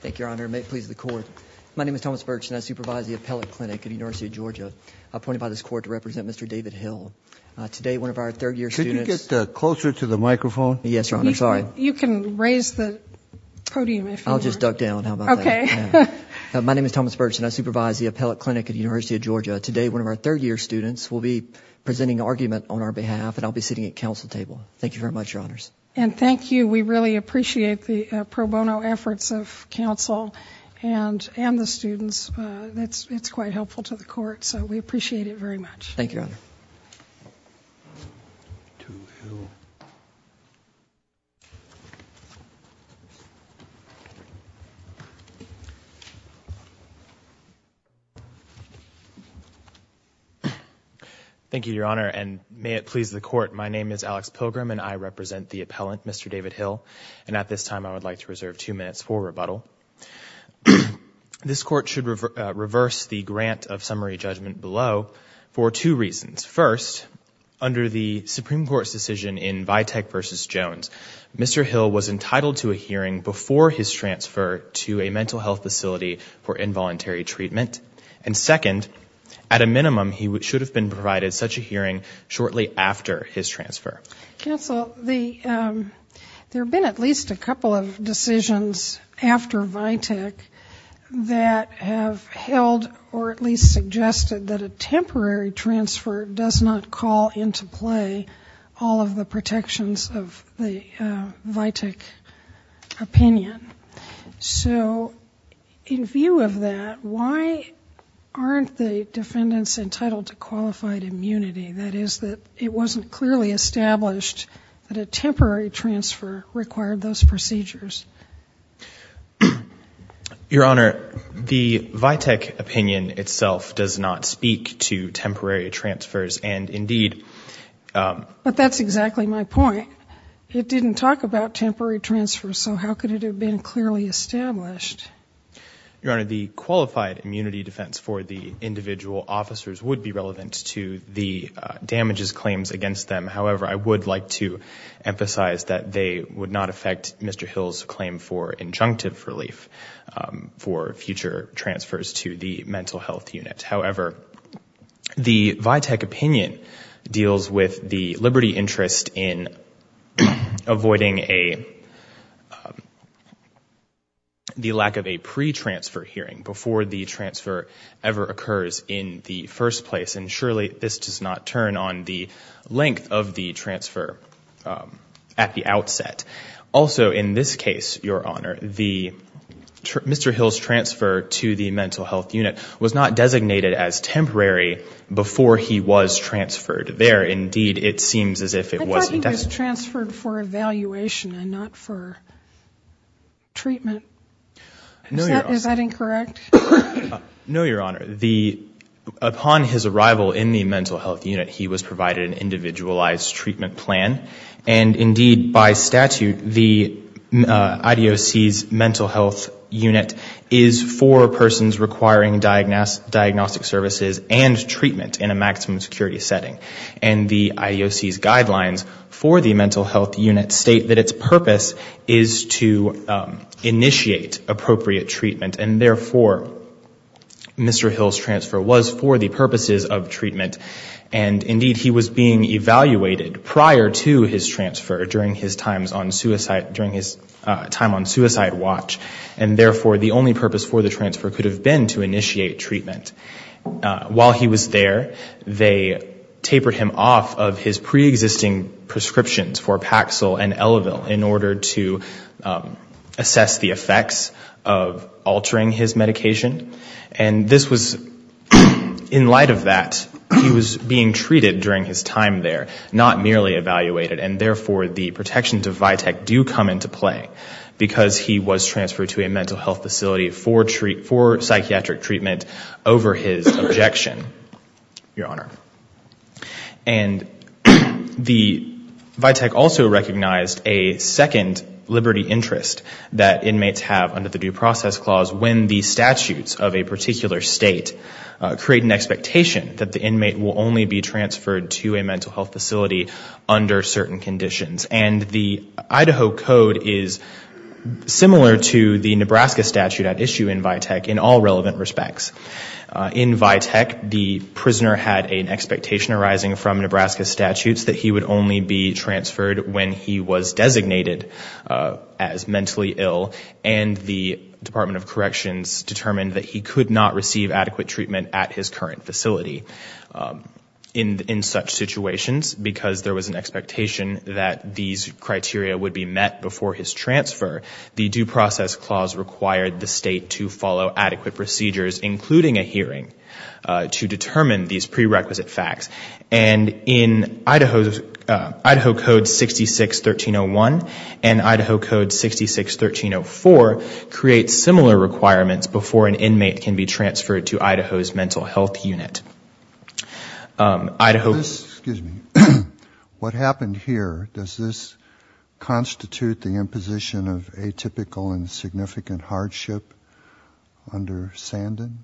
Thank you, Your Honor. May it please the Court. My name is Thomas Birch, and I supervise the Appellate Clinic at the University of Georgia. Appointed by this Court to represent Mr. David Hill. Today, one of our third-year students- Could you get closer to the microphone? Yes, Your Honor. I'm sorry. You can raise the podium if you want. I'll just duck down. How about that? Okay. My name is Thomas Birch, and I supervise the Appellate Clinic at the University of Georgia. Today, one of our third-year students will be presenting an argument on our behalf, and I'll be sitting at counsel table. Thank you very much, Your Honors. And thank you. We really appreciate the pro bono efforts of counsel and the students. It's quite helpful to the Court. So we appreciate it very much. Thank you, Your Honor. Thank you, Your Honor. And may it please the Court. My name is Alex Pilgrim, and I represent the Appellant, Mr. David Hill. And at this time, I would like to reserve two minutes for rebuttal. This Court should reverse the grant of summary judgment below for two reasons. First, under the Supreme Court's decision in Vitek v. Jones, Mr. Hill was entitled to a hearing before his transfer to a mental health facility for involuntary treatment. And second, at a minimum, he should have been provided such a hearing shortly after his transfer. Counsel, there have been at least a couple of decisions after Vitek that have held or at least suggested that a temporary transfer does not call into play all of the protections of the Vitek opinion. So in view of that, why aren't the defendants entitled to qualified immunity? That is, that it wasn't clearly established that a temporary transfer required those procedures. Your Honor, the Vitek opinion itself does not speak to temporary transfers. And indeed – But that's exactly my point. It didn't talk about temporary transfers, so how could it have been clearly established? Your Honor, the qualified immunity defense for the individual officers would be relevant to the damages claims against them. However, I would like to emphasize that they would not affect Mr. Hill's claim for injunctive relief for future transfers to the mental health unit. However, the Vitek opinion deals with the liberty interest in avoiding the lack of a pre-transfer hearing before the transfer ever occurs in the first place. And surely this does not turn on the length of the transfer at the outset. Also, in this case, Your Honor, Mr. Hill's transfer to the mental health unit was not designated as temporary before he was transferred there. Indeed, it seems as if it wasn't designated. I thought he was transferred for evaluation and not for treatment. Is that incorrect? No, Your Honor. Upon his arrival in the mental health unit, he was provided an individualized treatment plan. And indeed, by statute, the IDOC's mental health unit is for persons requiring diagnostic services and treatment in a maximum security setting. And the IDOC's guidelines for the mental health unit state that its purpose is to initiate appropriate treatment. And therefore, Mr. Hill's transfer was for the purposes of treatment. And indeed, he was being evaluated prior to his transfer during his time on suicide watch. And therefore, the only purpose for the transfer could have been to initiate treatment. While he was there, they tapered him off of his preexisting prescriptions for Paxil and Elevil in order to assess the effects of altering his medication. And this was, in light of that, he was being treated during his time there, not merely evaluated. And therefore, the protections of VITEC do come into play because he was transferred to a mental health facility for psychiatric treatment over his objection, Your Honor. And the VITEC also recognized a second liberty interest that inmates have under the Due Process Clause when the statutes of a particular state create an expectation that the inmate will only be transferred to a mental health facility under certain conditions. And the Idaho Code is similar to the Nebraska statute at issue in VITEC in all relevant respects. In VITEC, the prisoner had an expectation arising from Nebraska statutes that he would only be transferred when he was designated as mentally ill. And the Department of Corrections determined that he could not receive adequate treatment at his current facility. In such situations, because there was an expectation that these criteria would be met before his transfer, the Due Process Clause required the state to follow adequate procedures, including a hearing, to determine these prerequisite facts. And Idaho Code 66-1301 and Idaho Code 66-1304 create similar requirements before an inmate can be transferred to Idaho's mental health unit. What happened here, does this constitute the imposition of atypical and significant hardship under Sandan?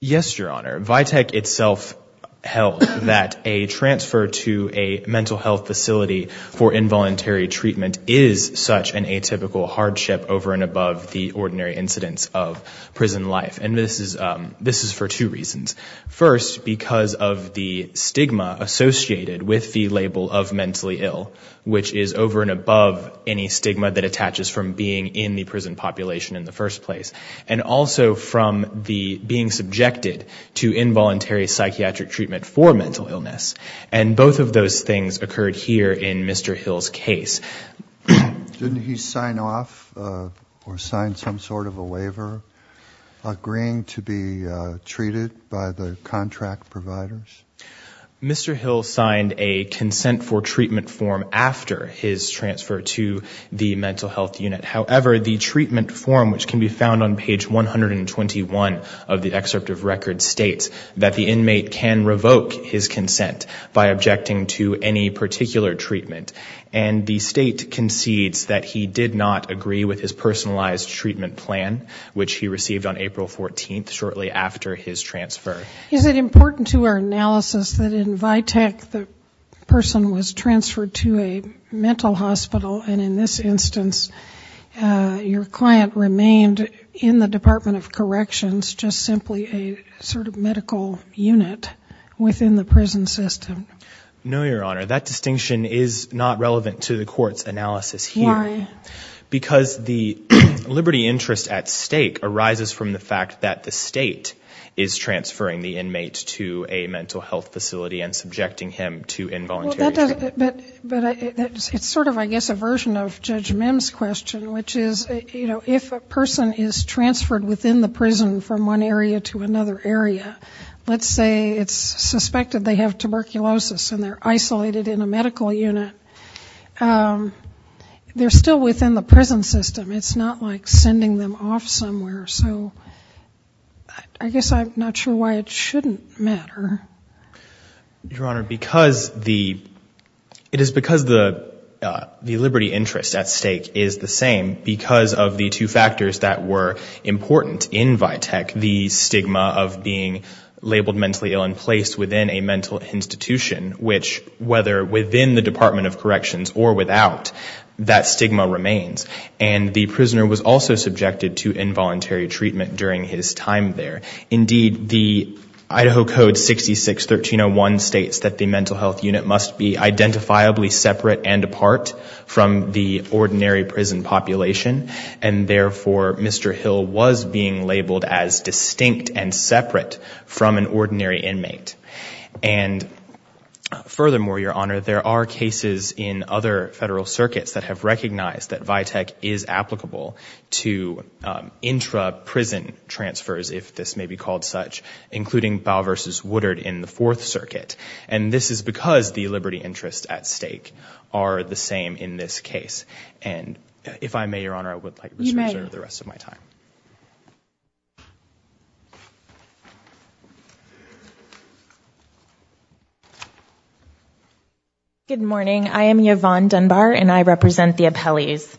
Yes, Your Honor. VITEC itself held that a transfer to a mental health facility for involuntary treatment is such an atypical hardship over and above the ordinary incidence of prison life. And this is for two reasons. First, because of the stigma associated with the label of mentally ill, which is over and above any stigma that attaches from being in the prison population in the first place. And also from the being subjected to involuntary psychiatric treatment for mental illness. And both of those things occurred here in Mr. Hill's case. Didn't he sign off or sign some sort of a waiver agreeing to be treated by the contract providers? Mr. Hill signed a consent for treatment form after his transfer to the mental health unit. However, the treatment form, which can be found on page 121 of the excerpt of record, states that the inmate can revoke his consent by objecting to any particular treatment. And the state concedes that he did not agree with his personalized treatment plan, which he received on April 14th, shortly after his transfer. Is it important to our analysis that in VITEC the person was transferred to a mental hospital and in this instance your client remained in the Department of Corrections, just simply a sort of medical unit within the prison system? No, Your Honor. That distinction is not relevant to the court's analysis here. Why? Because the liberty interest at stake arises from the fact that the state is transferring the inmate to a mental health facility and subjecting him to involuntary treatment. But it's sort of, I guess, a version of Judge Mims' question, which is, you know, if a person is transferred within the prison from one area to another area, let's say it's suspected they have tuberculosis and they're isolated in a medical unit, they're still within the prison system. It's not like sending them off somewhere. So I guess I'm not sure why it shouldn't matter. Your Honor, it is because the liberty interest at stake is the same. Because of the two factors that were important in VITEC, the stigma of being labeled mentally ill and placed within a mental institution, which, whether within the Department of Corrections or without, that stigma remains. And the prisoner was also subjected to involuntary treatment during his time there. Indeed, the Idaho Code 66-1301 states that the mental health unit must be identifiably separate and apart from the ordinary prison population. And therefore, Mr. Hill was being labeled as distinct and separate from an ordinary inmate. And furthermore, Your Honor, there are cases in other federal circuits that have recognized that VITEC is applicable to intra-prison transfers, if this makes sense. It may be called such, including Bowe v. Woodard in the Fourth Circuit. And this is because the liberty interests at stake are the same in this case. And if I may, Your Honor, I would like to reserve the rest of my time. Good morning. I am Yvonne Dunbar and I represent the appellees.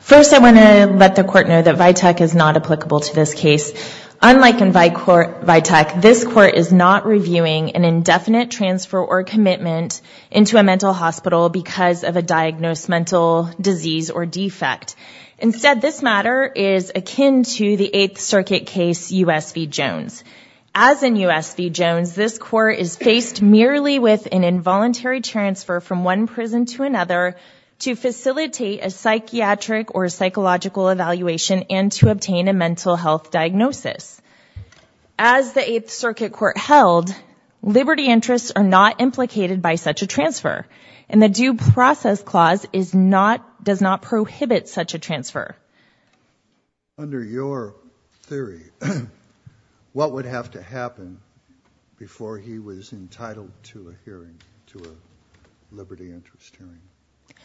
First, I want to let the Court know that VITEC is not applicable to this case. Unlike in VITEC, this Court is not reviewing an indefinite transfer or commitment into a mental hospital because of a diagnosed mental disease or defect. Instead, this matter is akin to the Eighth Circuit case, U.S. v. Jones. As in U.S. v. Jones, this Court is faced merely with an involuntary transfer from one prison to another, to facilitate a psychiatric or psychological evaluation, and to obtain a mental health diagnosis. As the Eighth Circuit Court held, liberty interests are not implicated by such a transfer, and the Due Process Clause does not prohibit such a transfer. Under your theory, what would have to happen before he was entitled to a hearing, to a liberty interest hearing?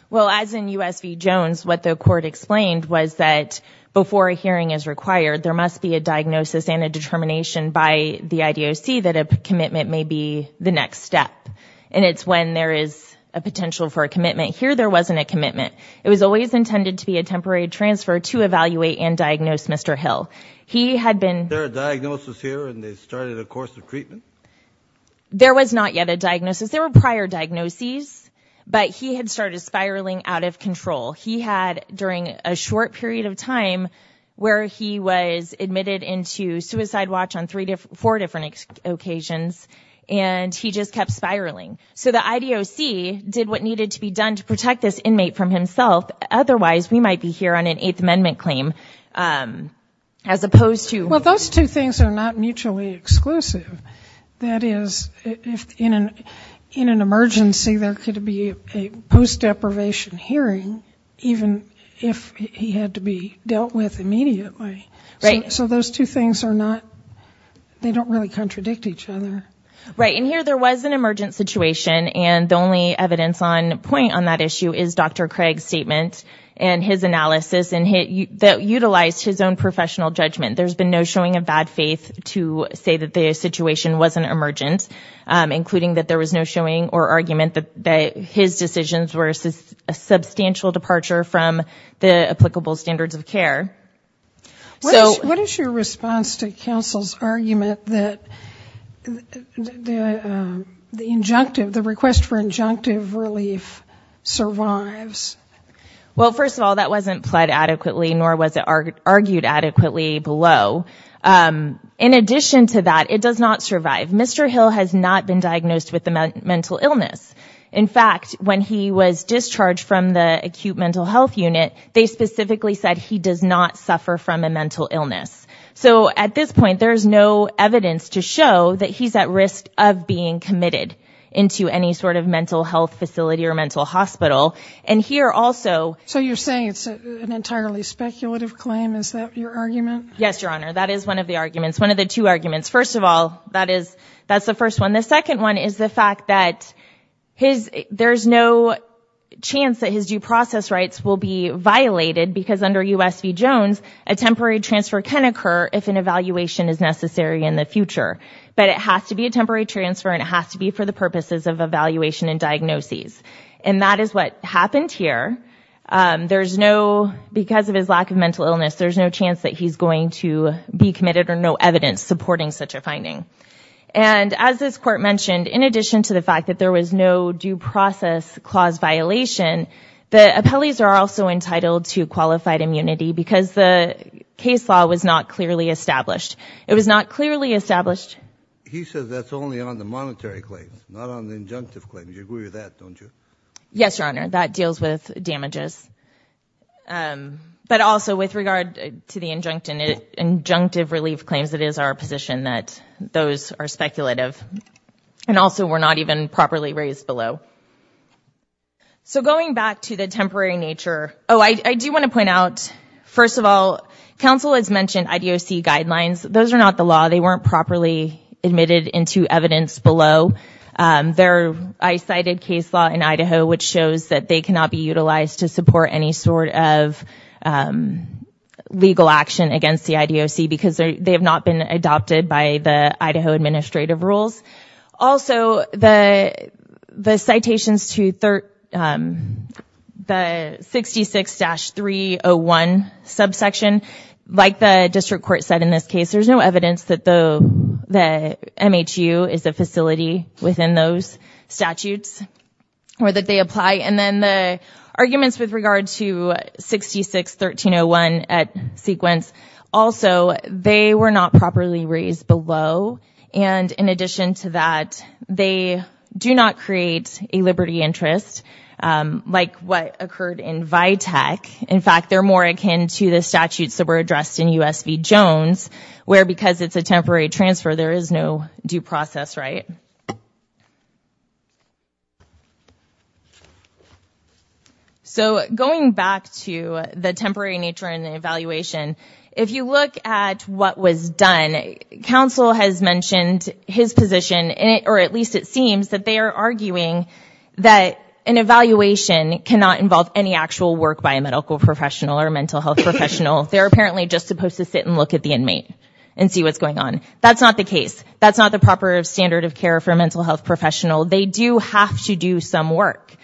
Well, as in U.S. v. Jones, what the Court explained was that before a hearing is required, there must be a diagnosis and a determination by the IDOC that a commitment may be the next step. And it's when there is a potential for a commitment. Here, there wasn't a commitment. It was always intended to be a temporary transfer to evaluate and diagnose Mr. Hill. Was there a diagnosis here and they started a course of treatment? There was not yet a diagnosis. There were prior diagnoses, but he had started spiraling out of control. He had, during a short period of time where he was admitted into Suicide Watch on four different occasions, and he just kept spiraling. So the IDOC did what needed to be done to protect this inmate from himself. Otherwise, we might be here on an Eighth Amendment claim, as opposed to... Well, those two things are not mutually exclusive. That is, in an emergency, there could be a post-deprivation hearing, even if he had to be dealt with immediately. So those two things are not, they don't really contradict each other. Right. And here, there was an emergent situation. And the only evidence on point on that issue is Dr. Craig's statement and his analysis that utilized his own professional judgment. There's been no showing of bad faith to say that the situation wasn't emergent, including that there was no showing or argument that his decisions were a substantial departure from the applicable standards of care. What is your response to counsel's argument that the injunctive, the request for injunctive relief survives? Well, first of all, that wasn't pled adequately, nor was it argued adequately below. In addition to that, it does not survive. Mr. Hill has not been diagnosed with a mental illness. In fact, when he was discharged from the acute mental health unit, they specifically said he does not suffer from a mental illness. So at this point, there's no evidence to show that he's at risk of being committed into any sort of mental health facility or mental hospital. And here also... So you're saying it's an entirely speculative claim? Is that your argument? Yes, Your Honor. That is one of the arguments, one of the two arguments. First of all, that is, that's the first one. And the second one is the fact that there's no chance that his due process rights will be violated, because under U.S. v. Jones, a temporary transfer can occur if an evaluation is necessary in the future. But it has to be a temporary transfer, and it has to be for the purposes of evaluation and diagnoses. And that is what happened here. There's no... Because of his lack of mental illness, there's no chance that he's going to be committed or no evidence supporting such a finding. And as this court mentioned, in addition to the fact that there was no due process clause violation, the appellees are also entitled to qualified immunity because the case law was not clearly established. It was not clearly established. He says that's only on the monetary claims, not on the injunctive claims. You agree with that, don't you? But also with regard to the injunctive relief claims, it is our position that those are speculative. And also were not even properly raised below. So going back to the temporary nature... Oh, I do want to point out, first of all, counsel has mentioned IDOC guidelines. Those are not the law. They weren't properly admitted into evidence below. I cited case law in Idaho, which shows that they cannot be utilized to support any sort of legal action against the IDOC because they have not been adopted by the Idaho administrative rules. Also, the citations to the 66-301 subsection, like the district court said in this case, there's no evidence that the MHU is a facility within those statutes or that they apply. And then the arguments with regard to 66-1301 at sequence, also, they were not properly raised below. And in addition to that, they do not create a liberty interest like what occurred in Vitek. In fact, they're more akin to the statutes that were addressed in U.S. v. Jones, where because it's a temporary transfer, there is no due process, right? So going back to the temporary nature and the evaluation, if you look at what was done, counsel has mentioned his position, or at least it seems that they are arguing that an evaluation cannot involve any actual work by a medical professional or a mental health professional. They're apparently just supposed to sit and look at the inmate and see what's going on. That's not the case. That's not the proper standard of care for a mental health professional. They do have to do some work,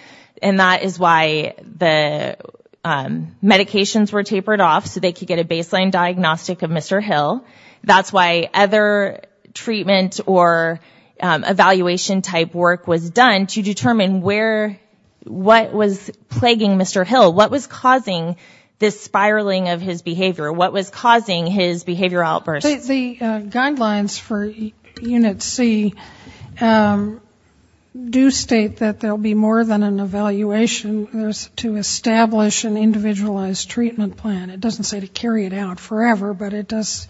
and that is why the medications were tapered off so they could get a baseline diagnostic of Mr. Hill. That's why other treatment or evaluation-type work was done to determine where, what was plaguing Mr. Hill, what was causing this spiraling of his behavior, what was causing his behavioral outbursts. The guidelines for Unit C do state that there will be more than an evaluation. There's to establish an individualized treatment plan. It doesn't say to carry it out forever, but it does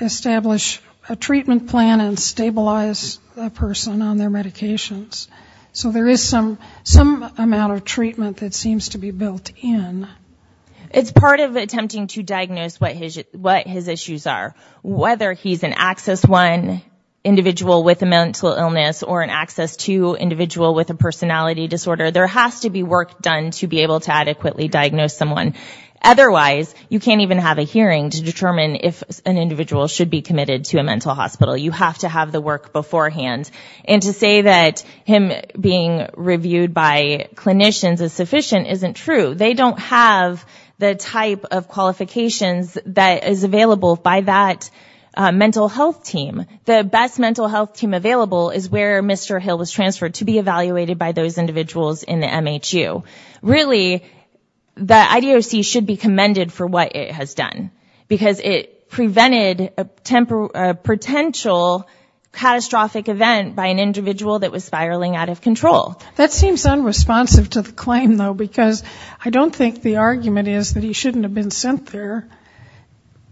establish a treatment plan and stabilize the person on their medications. So there is some amount of treatment that seems to be built in. It's part of attempting to diagnose what his issues are. Whether he's an Access I individual with a mental illness or an Access II individual with a personality disorder, there has to be work done to be able to adequately diagnose someone. Otherwise, you can't even have a hearing to determine if an individual should be committed to a mental hospital. You have to have the work beforehand. And to say that him being reviewed by clinicians is sufficient isn't true. They don't have the type of qualifications that is available by that mental health team. The best mental health team available is where Mr. Hill was transferred to be evaluated by those individuals in the MHU. So really, the IDOC should be commended for what it has done. Because it prevented a potential catastrophic event by an individual that was spiraling out of control. That seems unresponsive to the claim, though, because I don't think the argument is that he shouldn't have been sent there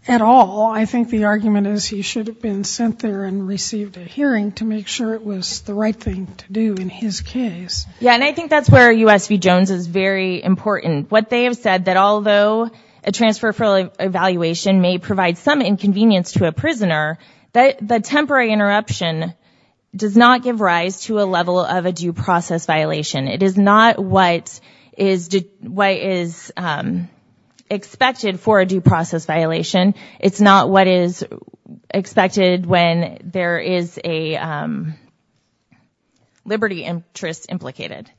at all. I think the argument is he should have been sent there and received a hearing to make sure it was the right thing to do in his case. Yeah, and I think that's where USV Jones is very important. What they have said, that although a transfer for evaluation may provide some inconvenience to a prisoner, the temporary interruption does not give rise to a level of a due process violation. It is not what is expected for a due process violation. It's not what is expected when there is a liberty interest implicated.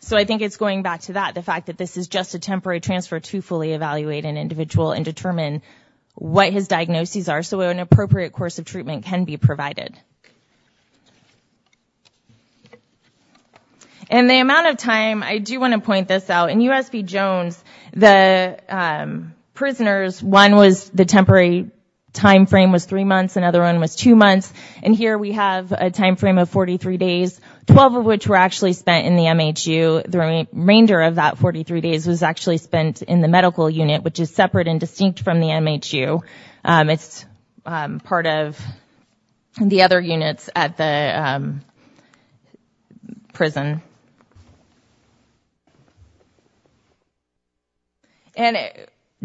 So I think it's going back to that, the fact that this is just a temporary transfer to fully evaluate an individual and determine what his diagnoses are so an appropriate course of treatment can be provided. In the amount of time, I do want to point this out. In USV Jones, the prisoners, one was the temporary time frame was three months, another one was two months, and here we have a time frame of 43 days, 12 of which were actually spent in the MHU. The remainder of that 43 days was actually spent in the medical unit, which is separate and distinct from the MHU. It's part of the other units at the prison. And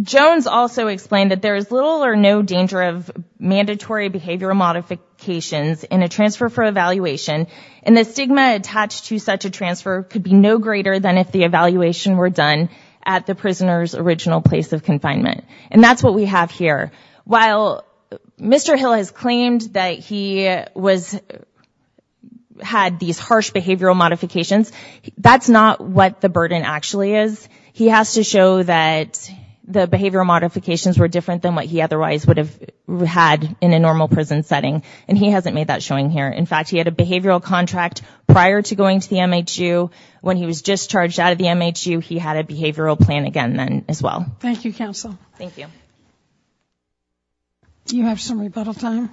Jones also explained that there is little or no danger of mandatory behavioral modifications in a transfer for evaluation, and the stigma attached to such a transfer could be no greater than if the evaluation were done at the prisoner's original place of confinement. And that's what we have here. While Mr. Hill has claimed that he had these harsh behavioral modifications, that's not what the burden actually is. He has to show that the behavioral modifications were different than what he otherwise would have had in a normal prison setting, and he hasn't made that showing here. In fact, he had a behavioral contract prior to going to the MHU. When he was discharged out of the MHU, he had a behavioral plan again then as well. Thank you, Counsel. Thank you. Do you have some rebuttal time?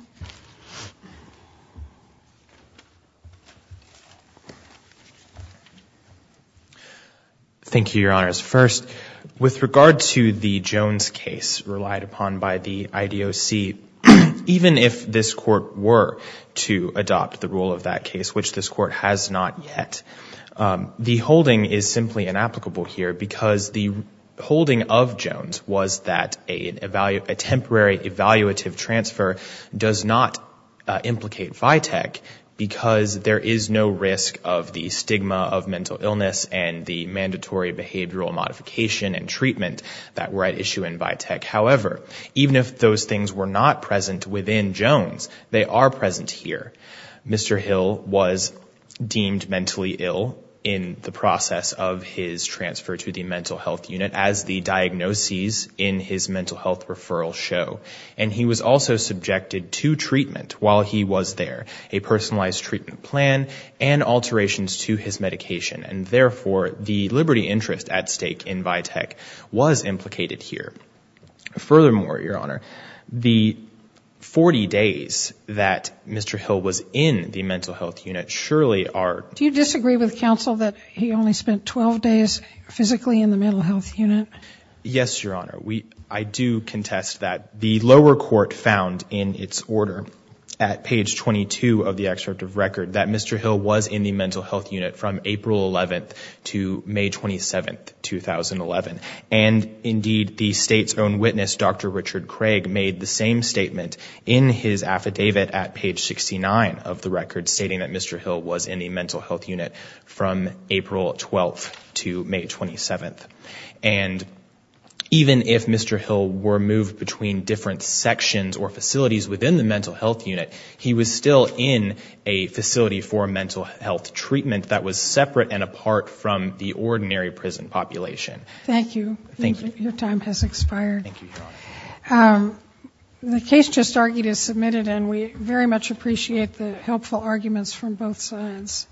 Thank you, Your Honors. First, with regard to the Jones case relied upon by the IDOC, even if this court were to adopt the rule of that case, which this court has not yet, the holding is simply inapplicable here because the holding of Jones was that a temporary evaluative transfer does not implicate VITEC because there is no risk of the stigma of mental illness and the mandatory behavioral modification and treatment that were at issue in VITEC. However, even if those things were not present within Jones, they are present here. Mr. Hill was deemed mentally ill in the process of his transfer to the mental health unit, as the diagnoses in his mental health referral show. And he was also subjected to treatment while he was there, a personalized treatment plan and alterations to his medication. And therefore, the liberty interest at stake in VITEC was implicated here. Furthermore, Your Honor, the 40 days that Mr. Hill was in the mental health unit surely are— Do you disagree with Counsel that he only spent 12 days physically in the mental health unit? Yes, Your Honor. I do contest that. The lower court found in its order at page 22 of the excerpt of record that Mr. Hill was in the mental health unit from April 11th to May 27th, 2011. And indeed, the State's own witness, Dr. Richard Craig, made the same statement in his affidavit at page 69 of the record, stating that Mr. Hill was in the mental health unit from April 12th to May 27th. And even if Mr. Hill were moved between different sections or facilities within the mental health unit, he was still in a facility for mental health treatment that was separate and apart from the ordinary prison population. Thank you. Thank you. Your time has expired. Thank you, Your Honor. The case just argued is submitted, and we very much appreciate the helpful arguments from both sides.